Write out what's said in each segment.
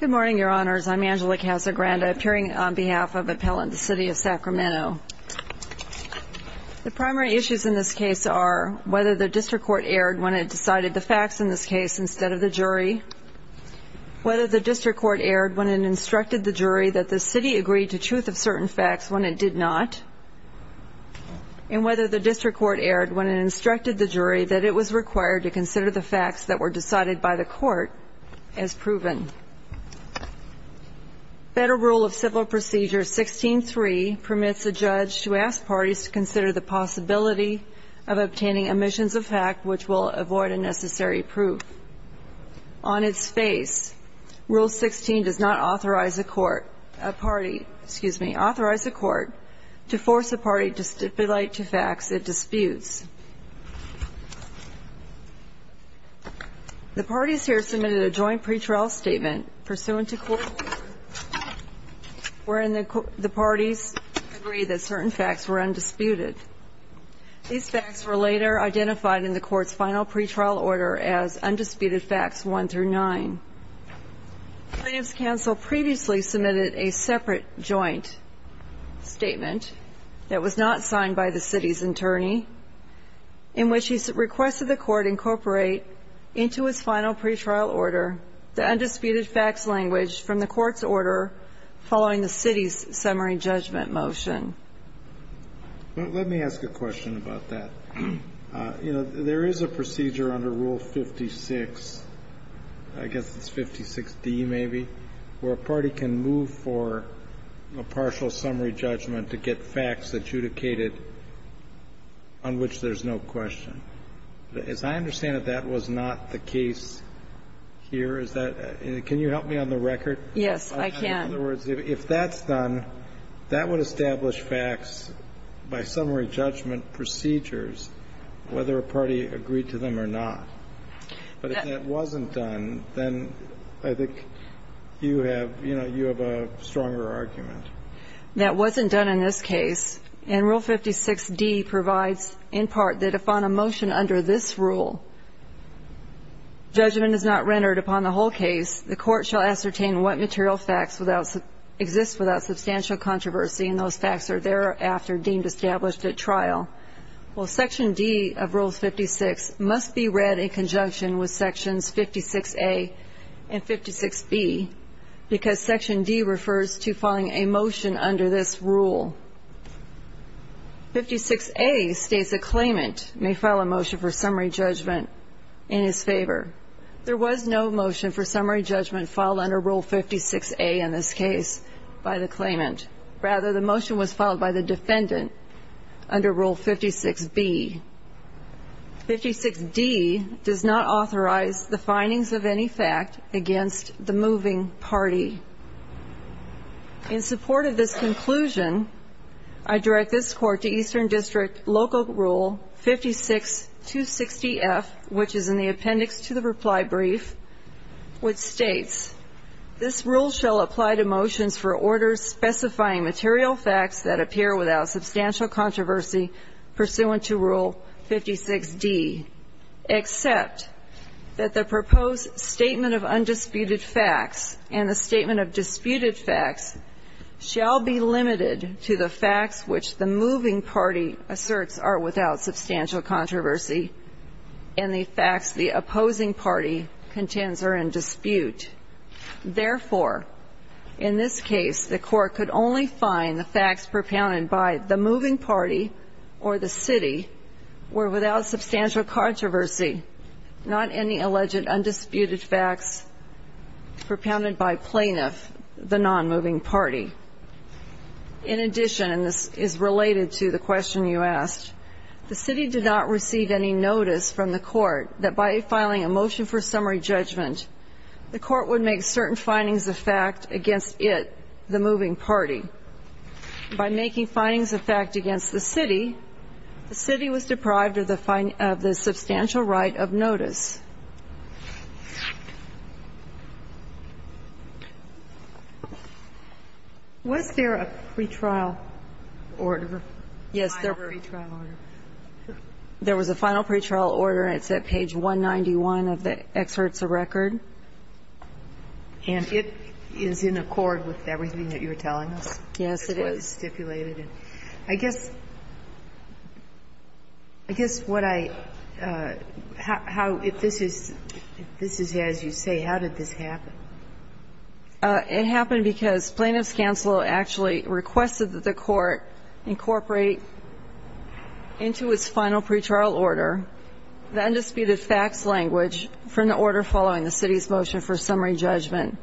Good morning, Your Honors. I'm Angela Casagrande, appearing on behalf of Appellant v. City of Sacramento. The primary issues in this case are whether the District Court erred when it decided the facts in this case instead of the jury, whether the District Court erred when it instructed the jury that the City agreed to truth of certain facts when it did not, and whether the District Court erred when it instructed the jury that it was required to consider the facts that were decided by the court as proven. Federal Rule of Civil Procedure 16-3 permits a judge to ask parties to consider the possibility of obtaining omissions of fact which will avoid a necessary proof. On its face, Rule 16 does not authorize a court to force a party to stipulate to facts it disputes. The parties here submitted a joint pretrial statement pursuant to court order wherein the parties agreed that certain facts were undisputed. These facts were later identified in the court's final pretrial order as Undisputed Facts 1-9. The plaintiff's counsel previously submitted a separate joint statement that was not signed by the City's attorney in which he requested the court incorporate into its final pretrial order the undisputed facts language from the court's order following the City's summary judgment motion. Let me ask a question about that. There is a procedure under Rule 56, I guess it's 56d maybe, where a party can move for a partial summary judgment to get facts adjudicated on which there's no question. As I understand it, that was not the case here. Is that the case? Can you help me on the record? Yes, I can. In other words, if that's done, that would establish facts by summary judgment procedures whether a party agreed to them or not. But if that wasn't done, then I think you have, you know, you have a stronger argument. That wasn't done in this case. And Rule 56d provides in part that if on a motion under this rule judgment is not rendered upon the whole case, the court shall ascertain what material facts exist without substantial controversy, and those facts are thereafter deemed established at trial. Well, Section D of Rule 56 must be read in conjunction with Sections 56a and 56b because Section D refers to following a motion under this rule. 56a states a claimant may file a motion for summary judgment in his favor. There was no motion for summary judgment filed under Rule 56a in this case by the claimant. Rather, the motion was filed by the defendant under Rule 56b. 56d does not authorize the findings of any fact against the moving party. In support of this conclusion, I direct this Court to Eastern District Local Rule 56-260-F, which is in the appendix to the reply brief, which states, this rule shall apply to motions for orders specifying material facts that appear without substantial controversy pursuant to Rule 56d, except that the proposed statement of undisputed facts and the statement of disputed facts shall be limited to the facts which the moving party asserts are without substantial controversy and the facts the opposing party contends are in dispute. Therefore, in this case, the Court could only find the facts propounded by the moving party or the city were without substantial controversy, not any alleged undisputed facts propounded by plaintiff, the nonmoving party. In addition, and this is related to the question you asked, the city did not receive any notice from the court that by filing a motion for summary judgment, the court would make certain findings of fact against it, the moving party. By making findings of fact against the city, the city was deprived of the substantial right of notice. Was there a pretrial order, final pretrial order? There was a final pretrial order, and it's at page 191 of the excerpts of record. And it is in accord with everything that you were telling us. Yes, it is. It was stipulated. I guess what I how if this is as you say, how did this happen? It happened because plaintiff's counsel actually requested that the court incorporate into its final pretrial order the undisputed facts language from the order following the city's motion for summary judgment.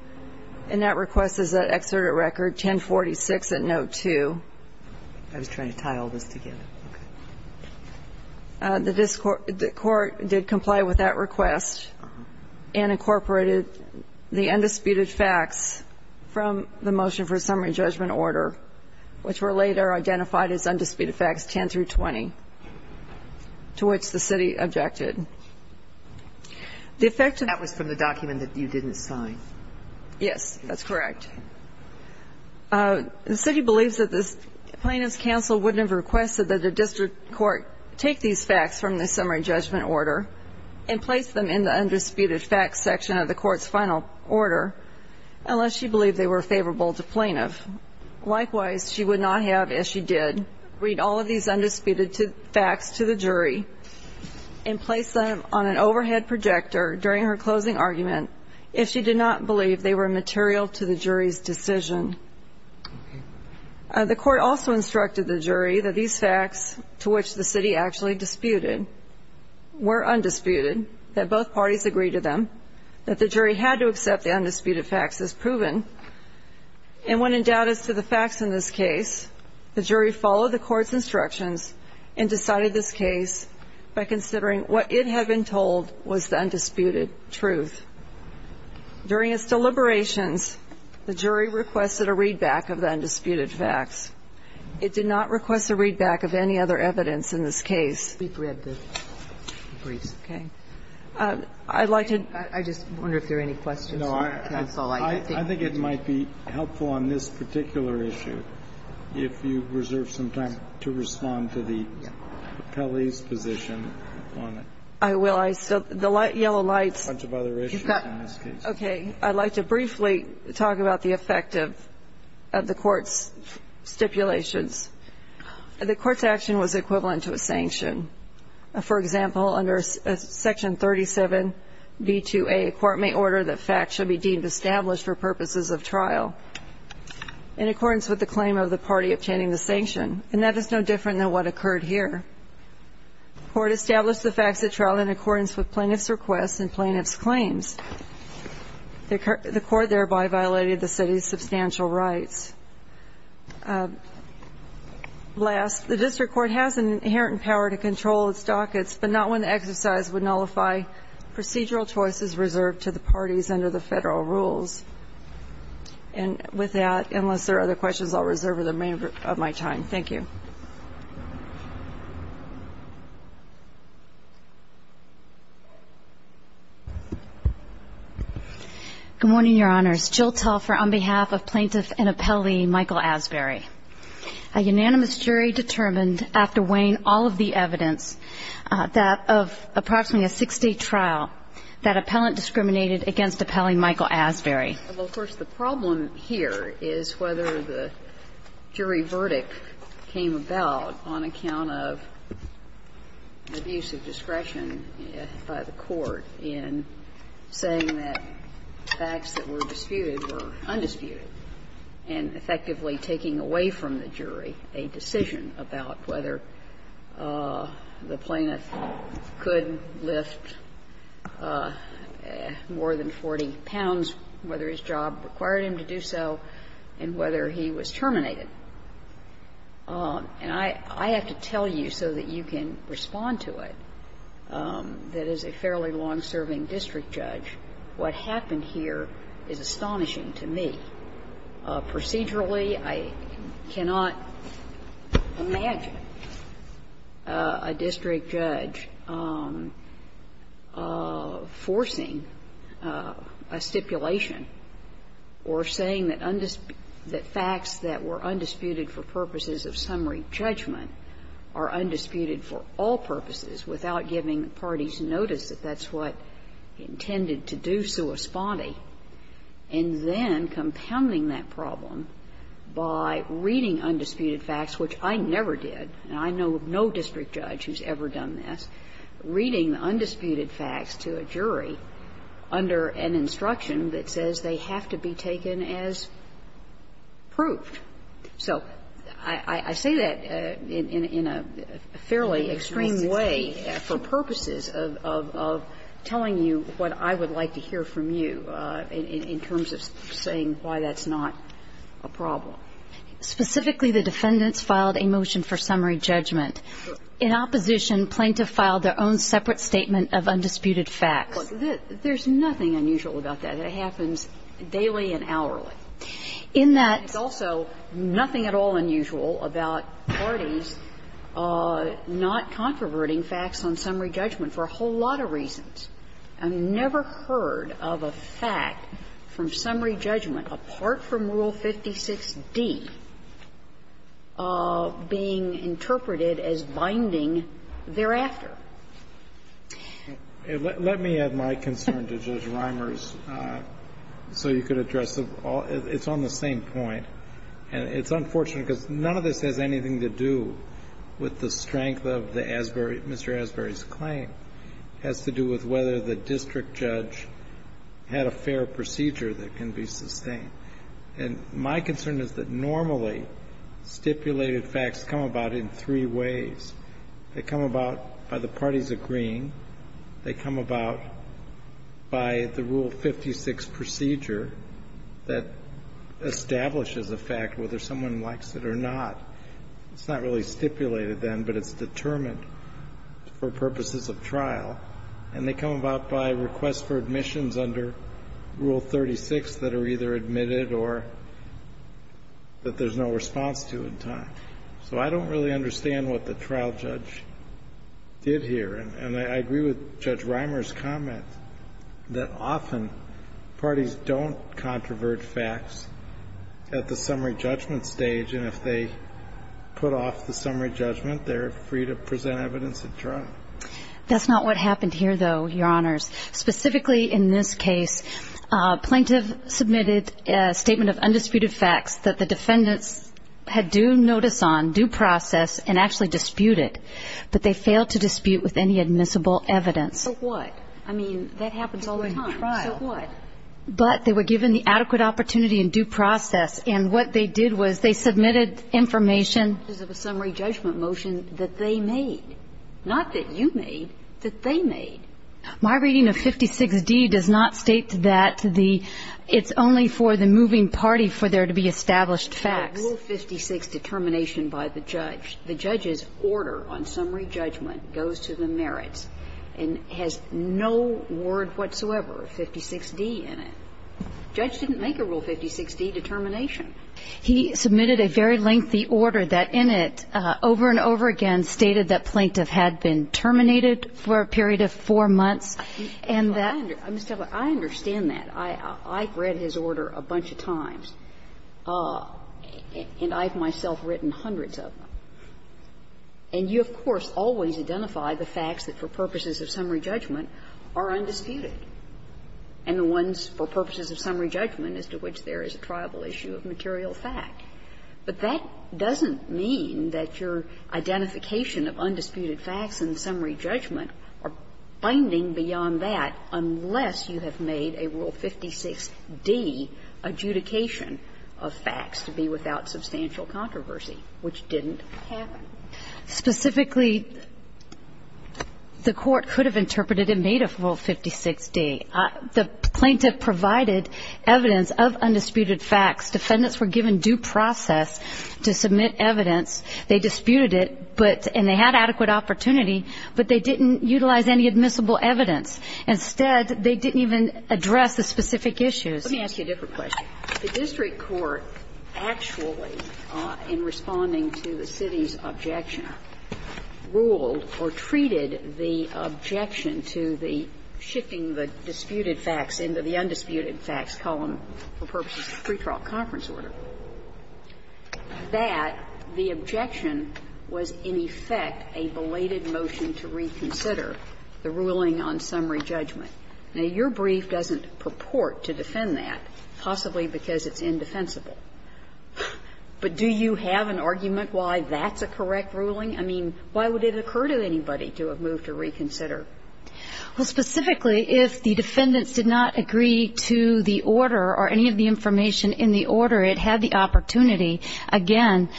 And that request is at excerpt of record 1046 at note 2. I was trying to tie all this together. The court did comply with that request and incorporated the undisputed facts from the facts 10 through 20, to which the city objected. That was from the document that you didn't sign. Yes, that's correct. The city believes that the plaintiff's counsel wouldn't have requested that a district court take these facts from the summary judgment order and place them in the undisputed facts section of the court's final order unless she believed they were favorable to plaintiff. Likewise, she would not have, as she did, read all of these undisputed facts to the jury and place them on an overhead projector during her closing argument if she did not believe they were material to the jury's decision. The court also instructed the jury that these facts, to which the city actually disputed, were undisputed, that both parties agree to them, that the jury had to accept the undisputed facts as proven. And when in doubt as to the facts in this case, the jury followed the court's instructions and decided this case by considering what it had been told was the undisputed truth. During its deliberations, the jury requested a readback of the undisputed facts. It did not request a readback of any other evidence in this case. I'd like to – I just wonder if there are any questions from the counsel. I think it might be helpful on this particular issue if you reserve some time to respond to the appellee's position on it. I will. I still – the yellow lights. A bunch of other issues in this case. Okay. I'd like to briefly talk about the effect of the court's stipulations. The court's action was equivalent to a sanction. For example, under Section 37b2a, a court may order that facts should be deemed established for purposes of trial in accordance with the claim of the party obtaining the sanction. And that is no different than what occurred here. The court established the facts at trial in accordance with plaintiff's requests and plaintiff's claims. The court thereby violated the city's substantial rights. Last, the district court has an inherent power to control its dockets, but not when the exercise would nullify procedural choices reserved to the parties under the rules. And with that, unless there are other questions, I'll reserve the remainder of my time. MS. TELFER Good morning, Your Honors. Jill Telfer on behalf of Plaintiff and Appellee Michael Asbury. A unanimous jury determined, after weighing all of the evidence, that of approximately a six-day trial, that appellant discriminated against Appellee Michael Asbury. JUDGE FRANKLIN Well, first, the problem here is whether the jury verdict came about on account of abuse of discretion by the court in saying that facts that were disputed were undisputed, and effectively taking away from the jury a decision about whether the plaintiff could lift more than 40 pounds, whether his job required him to do so, and whether he was terminated. And I have to tell you so that you can respond to it, that as a fairly long-serving district judge, what happened here is astonishing to me. Procedurally, I cannot imagine a district judge forcing a stipulation or saying that facts that were undisputed for purposes of summary judgment are undisputed for all purposes without giving the parties notice that that's what he intended to do sua spondi, and then compounding that problem by reading undisputed facts, which I never did, and I know of no district judge who's ever done this, reading undisputed facts to a jury under an instruction that says they have to be taken as proved. So I say that in a fairly extreme way for purposes of telling you what I would like to hear from you in terms of saying why that's not a problem. Specifically, the defendants filed a motion for summary judgment. In opposition, plaintiff filed their own separate statement of undisputed facts. There's nothing unusual about that. It happens daily and hourly. In that also nothing at all unusual about parties not controverting facts on summary judgment for a whole lot of reasons. I've never heard of a fact from summary judgment apart from Rule 56d being interpreted as binding thereafter. Let me add my concern to Judge Reimers so you could address the all of it. It's on the same point, and it's unfortunate, because none of this has anything to do with the strength of the Asbury, Mr. Asbury's claim. It has to do with whether the district judge had a fair procedure that can be sustained. And my concern is that normally stipulated facts come about in three ways. They come about by the parties agreeing. They come about by the Rule 56 procedure that establishes a fact, whether someone likes it or not. It's not really stipulated then, but it's determined for purposes of trial. And they come about by requests for admissions under Rule 36 that are either admitted or that there's no response to in time. So I don't really understand what the trial judge did here. And I agree with Judge Reimers' comment that often parties don't controvert facts at the summary judgment stage. And if they put off the summary judgment, they're free to present evidence at trial. That's not what happened here, though, Your Honors. Specifically in this case, a plaintiff submitted a statement of undisputed facts that the defendants had due notice on, due process, and actually disputed. But they failed to dispute with any admissible evidence. So what? I mean, that happens all the time. So what? But they were given the adequate opportunity and due process. And what they did was they submitted information. Because of a summary judgment motion that they made. Not that you made, that they made. My reading of 56d does not state that it's only for the moving party for there to be established facts. A Rule 56 determination by the judge. The judge's order on summary judgment goes to the merits and has no word whatsoever. And so the plaintiff submitted a statement of undisputed facts that the defendants And that's not what happened here, though, Your Honors. The plaintiff submitted a statement of undisputed facts that the defendants had due process, and had no word whatsoever. A Rule 56d in it. The judge didn't make a Rule 56d determination. And the ones for purposes of summary judgment as to which there is a tribal issue of material fact. But that doesn't mean that your identification of undisputed facts and summary judgment are binding beyond that, unless you have made a Rule 56d adjudication of facts to be without substantial controversy, which didn't happen. Specifically, the Court could have interpreted and made a Rule 56d determination of undisputed facts to be without substantial controversy, but that didn't happen. The plaintiff provided evidence of undisputed facts. Defendants were given due process to submit evidence. They disputed it, but they had adequate opportunity, but they didn't utilize any admissible evidence. Instead, they didn't even address the specific issues. Let me ask you a different question. The district court actually, in responding to the city's objection, ruled or treated the objection to the shifting the disputed facts into the undisputed facts column for purposes of pretrial conference order, that the objection was in effect a belated motion to reconsider the ruling on summary judgment. Now, your brief doesn't purport to defend that, possibly because it's indefensible. But do you have an argument why that's a correct ruling? I mean, why would it occur to anybody to have moved to reconsider? Well, specifically, if the defendants did not agree to the order or any of the information in the order, it had the opportunity, again,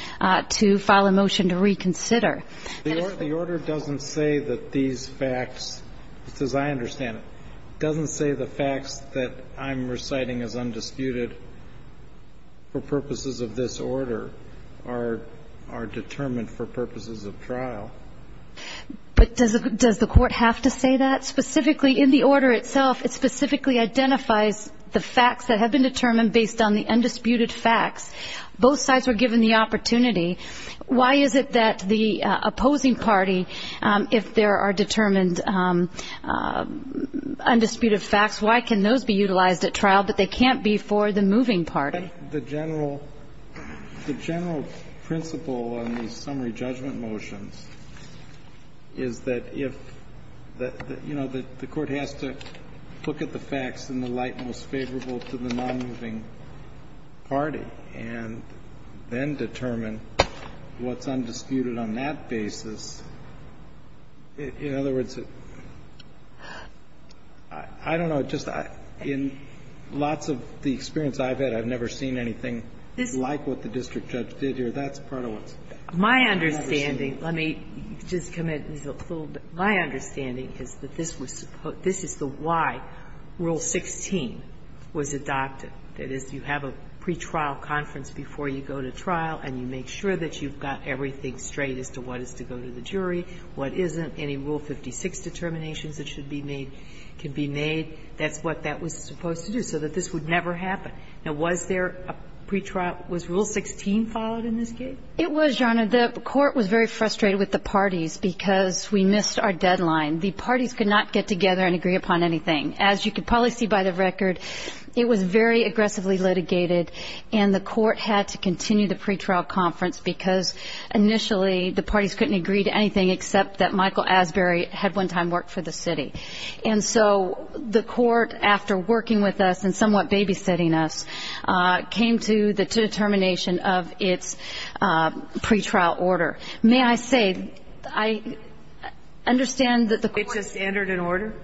to file a motion to reconsider. The order doesn't say that these facts, as I understand it, doesn't say the facts that I'm reciting as undisputed for purposes of this order are determined for purposes of trial. But does the court have to say that? Specifically, in the order itself, it specifically identifies the facts that have been determined based on the undisputed facts. Both sides were given the opportunity. Why is it that the opposing party, if there are determined undisputed facts, why can those be utilized at trial, but they can't be for the moving party? The general principle on the summary judgment motions is that if the court has to look at the facts in the light most favorable to the nonmoving party and then determine what's undisputed on that basis, in other words, I don't know. Just in lots of the experience I've had, I've never seen anything like what the district judge did here. That's part of what's never seen. My understanding, let me just comment just a little bit. My understanding is that this is the why Rule 16 was adopted, that is, you have a pretrial conference before you go to trial and you make sure that you've got everything straight as to what is to go to the jury, what isn't, any Rule 56 determinations that should be made, can be made. That's what that was supposed to do so that this would never happen. Now, was there a pretrial – was Rule 16 followed in this case? It was, Your Honor. The court was very frustrated with the parties because we missed our deadline. The parties could not get together and agree upon anything. As you could probably see by the record, it was very aggressively litigated. And the court had to continue the pretrial conference because initially the parties couldn't agree to anything except that Michael Asbury had one time worked for the city. And so the court, after working with us and somewhat babysitting us, came to the determination of its pretrial order. May I say, I understand that the court – It just entered an order?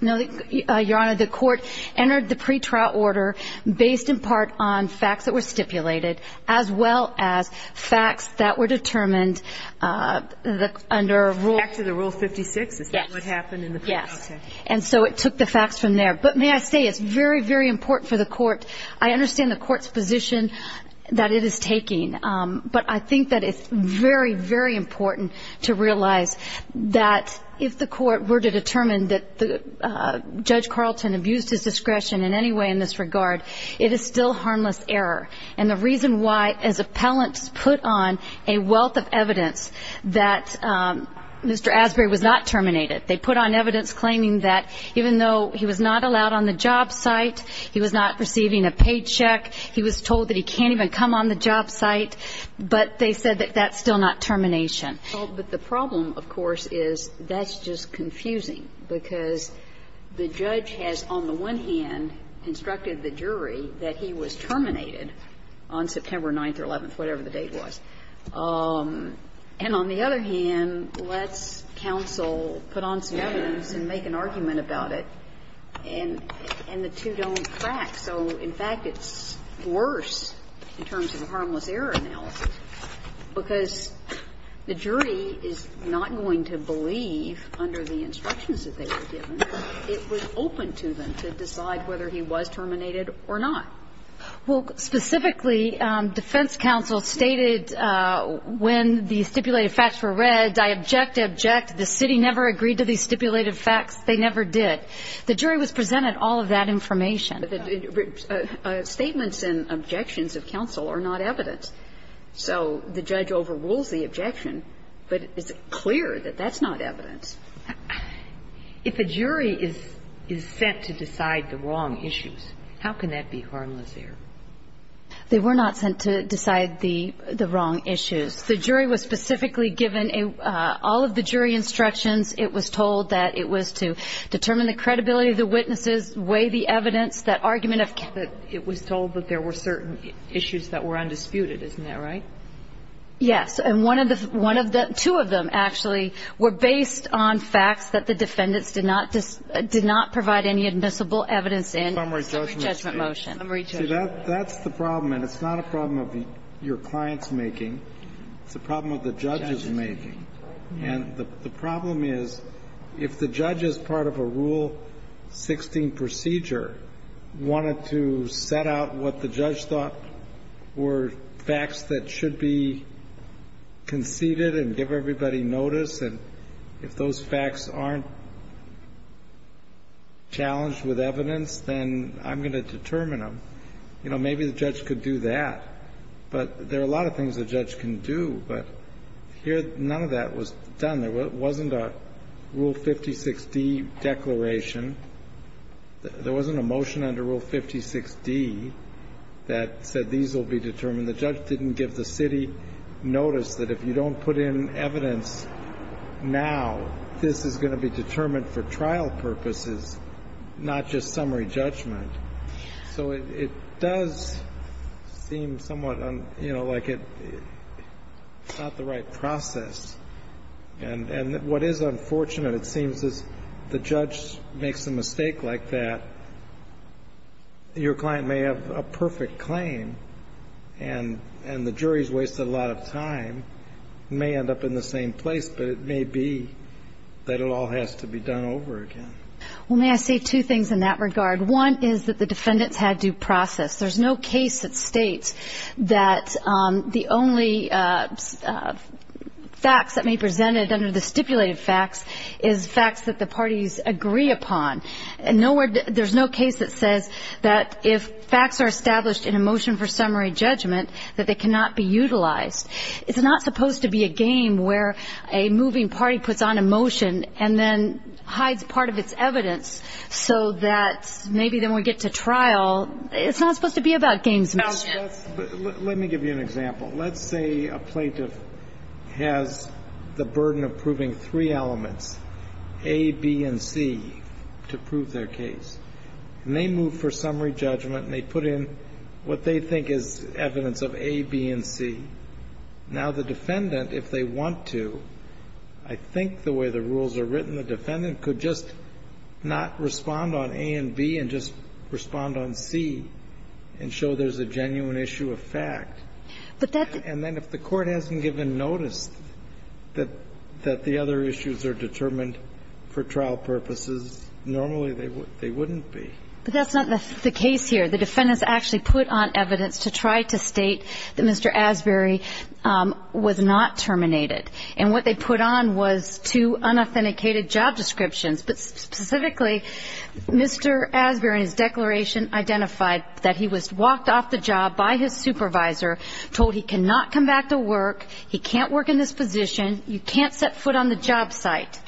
No, Your Honor. The court entered the pretrial order based in part on facts that were stipulated as well as facts that were determined under Rule – Back to the Rule 56? Yes. Is that what happened in the pretrial session? Yes. And so it took the facts from there. But may I say, it's very, very important for the court – I understand the court's position that it is taking, but I think that it's very, very important to realize that if the court were to determine that Judge Carlton abused his discretion in any way in this regard, it is still harmless error. And the reason why, as appellants put on a wealth of evidence that Mr. Asbury was not terminated, they put on evidence claiming that even though he was not allowed on the job site, he was not receiving a paycheck, he was told that he can't even come on the job site, but they said that that's still not termination. Well, but the problem, of course, is that's just confusing, because the judge has, on the one hand, instructed the jury that he was terminated on September 9th or 11th, whatever the date was. And on the other hand, let's counsel, put on some evidence and make an argument about it, and the two don't crack. So, in fact, it's worse in terms of a harmless error analysis, because the jury is not going to believe, under the instructions that they were given, that it was open to them to decide whether he was terminated or not. Well, specifically, defense counsel stated, when the stipulated facts were read, I object, object, the city never agreed to these stipulated facts, they never did. The jury was presented all of that information. Statements and objections of counsel are not evidence. So the judge overrules the objection, but it's clear that that's not evidence. If a jury is sent to decide the wrong issues, how can that be harmless error? They were not sent to decide the wrong issues. The jury was specifically given all of the jury instructions. It was told that it was to determine the credibility of the witnesses, weigh the evidence, that argument of counsel. And it was told that there were certain issues that were undisputed, isn't that right? Yes. And one of the two of them, actually, were based on facts that the defendants did not provide any admissible evidence in. Summary judgment. Summary judgment motion. See, that's the problem, and it's not a problem of your client's making. It's a problem of the judge's making. And the problem is, if the judge, as part of a Rule 16 procedure, wanted to set out what the judge thought were facts that should be conceded and give everybody notice, and if those facts aren't challenged with evidence, then I'm going to determine them, you know, maybe the judge could do that. But there are a lot of things a judge can do. But here, none of that was done. There wasn't a Rule 56d declaration. There wasn't a motion under Rule 56d that said these will be determined. The judge didn't give the city notice that if you don't put in evidence now, this is going to be determined for trial purposes, not just summary judgment. So it does seem somewhat, you know, like it's not the right process. And what is unfortunate, it seems, is the judge makes a mistake like that. Your client may have a perfect claim, and the jury's wasted a lot of time, may end up in the same place, but it may be that it all has to be done over again. Well, may I say two things in that regard? One is that the defendants had due process. There's no case that states that the only facts that may be presented under the stipulated facts is facts that the parties agree upon. There's no case that says that if facts are established in a motion for summary judgment, that they cannot be utilized. It's not supposed to be a game where a moving party puts on a motion and then hides part of its evidence so that maybe then we get to trial. It's not supposed to be about games, Ms. Smith. Let me give you an example. Let's say a plaintiff has the burden of proving three elements, A, B, and C, to prove their case. And they move for summary judgment, and they put in what they think is evidence of A, B, and C. Now, the defendant, if they want to, I think the way the rules are written, the defendant could just not respond on A and B and just respond on C and show there's a genuine issue of fact. And then if the court hasn't given notice that the other issues are determined for trial purposes, normally they wouldn't be. But that's not the case here. The defendants actually put on evidence to try to state that Mr. Asbury was not terminated. And what they put on was two unauthenticated job descriptions. But specifically, Mr. Asbury's declaration identified that he was walked off the job by his supervisor, told he cannot come back to work, he can't work in this position, you can't set foot on the job site.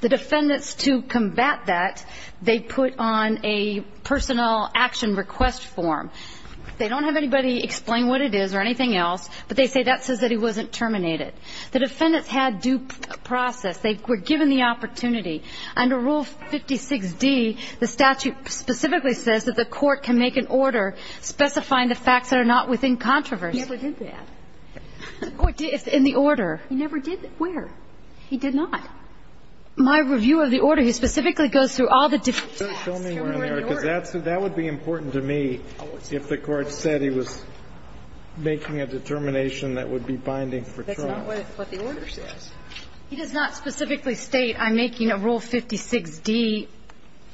The defendants, to combat that, they put on a personal action request form. They don't have anybody explain what it is or anything else, but they say that says that he wasn't terminated. The defendants had due process. They were given the opportunity. Under Rule 56D, the statute specifically says that the court can make an order specifying the facts that are not within controversy. He never did that. The court did in the order. He never did that. Where? He did not. My review of the order, he specifically goes through all the different facts. Show me where in there, because that would be important to me if the court said he was making a determination that would be binding for trial. That's not what the order says. He does not specifically state I'm making a Rule 56D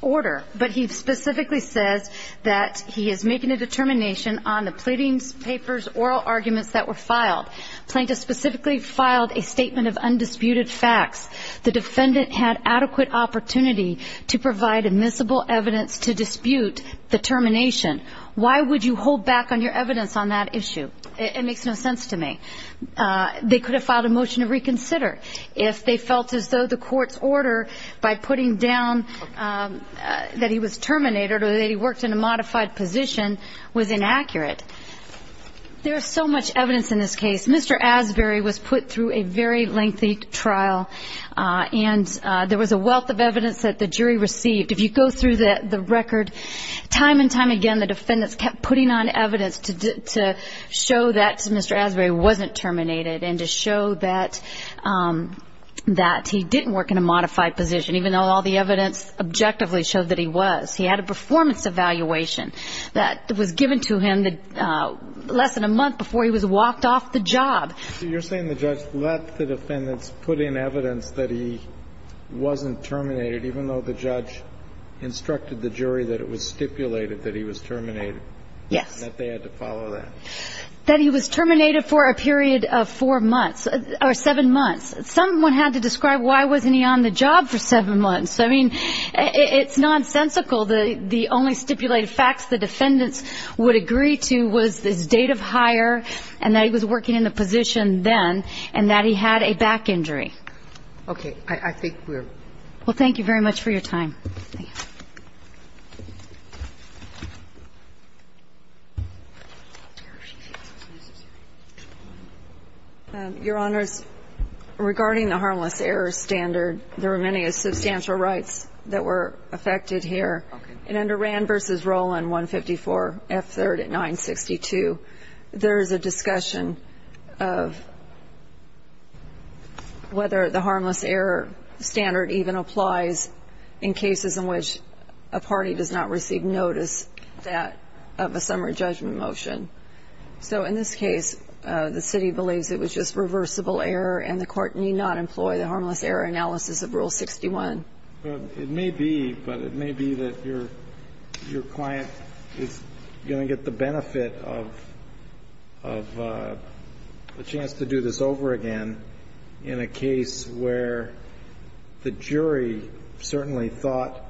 order, but he specifically says that he is making a determination on the pleadings, papers, oral arguments that were filed. Plaintiff specifically filed a statement of undisputed facts. The defendant had adequate opportunity to provide admissible evidence to dispute the termination. Why would you hold back on your evidence on that issue? It makes no sense to me. They could have filed a motion to reconsider if they felt as though the court's order by putting down that he was terminated or that he worked in a modified position was inaccurate. There is so much evidence in this case. Mr. Asbury was put through a very lengthy trial and there was a wealth of evidence that the jury received. If you go through the record time and time again, the defendants kept putting on evidence to show that Mr. Asbury wasn't terminated and to show that he didn't work in a modified position, even though all the evidence objectively showed that he was. He had a performance evaluation that was given to him less than a month before he was walked off the job. So you're saying the judge let the defendants put in evidence that he wasn't terminated, even though the judge instructed the jury that it was stipulated that he was terminated? Yes. That they had to follow that. That he was terminated for a period of four months or seven months. Someone had to describe why wasn't he on the job for seven months. I mean, it's nonsensical. The only stipulated facts the defendants would agree to was his date of hire and that he was working in the position then and that he had a back injury. Okay. I think we're ---- Well, thank you very much for your time. Thank you. Your Honors, regarding the harmless error standard, there were many substantial rights that were affected here. Okay. And under Rand v. Roland, 154, F3rd at 962, there is a discussion of whether the harmless error analysis of Rule 61 should be used in a case where the jury is going to get the benefit of a chance to do this over again in a case where the jury certainly thought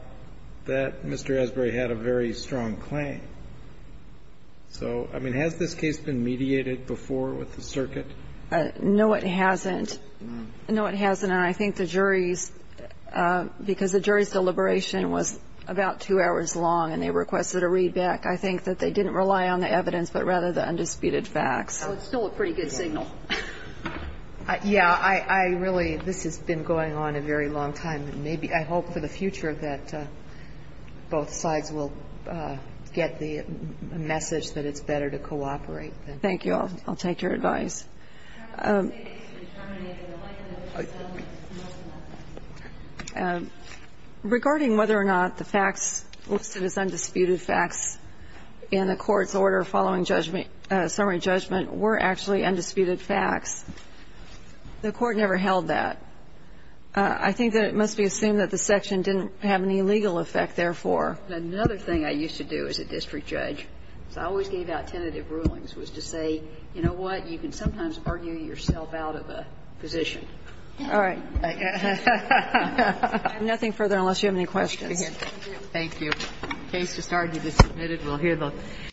that Mr. Asbury had a very strong claim. So, I mean, has this case been mediated before with the circuit? No, it hasn't. No, it hasn't. And I think the jury's ---- because the jury's deliberation was about two hours long and they requested a readback, I think that they didn't rely on the evidence but rather the undisputed facts. So it's still a pretty good signal. Yeah. I really ---- this has been going on a very long time. And maybe ---- I hope for the future that both sides will get the message that it's better to cooperate. Thank you. I'll take your advice. Regarding whether or not the facts listed as undisputed facts in the Court's order following judgment ---- summary judgment were actually undisputed facts, the Court never held that. I think that it must be assumed that the section didn't have any legal effect, therefore. Another thing I used to do as a district judge, because I always gave out tentative rulings, was to say, you know what? You can sometimes argue yourself out of a position. All right. Nothing further unless you have any questions. Thank you. The case has started to be submitted. We'll hear the ----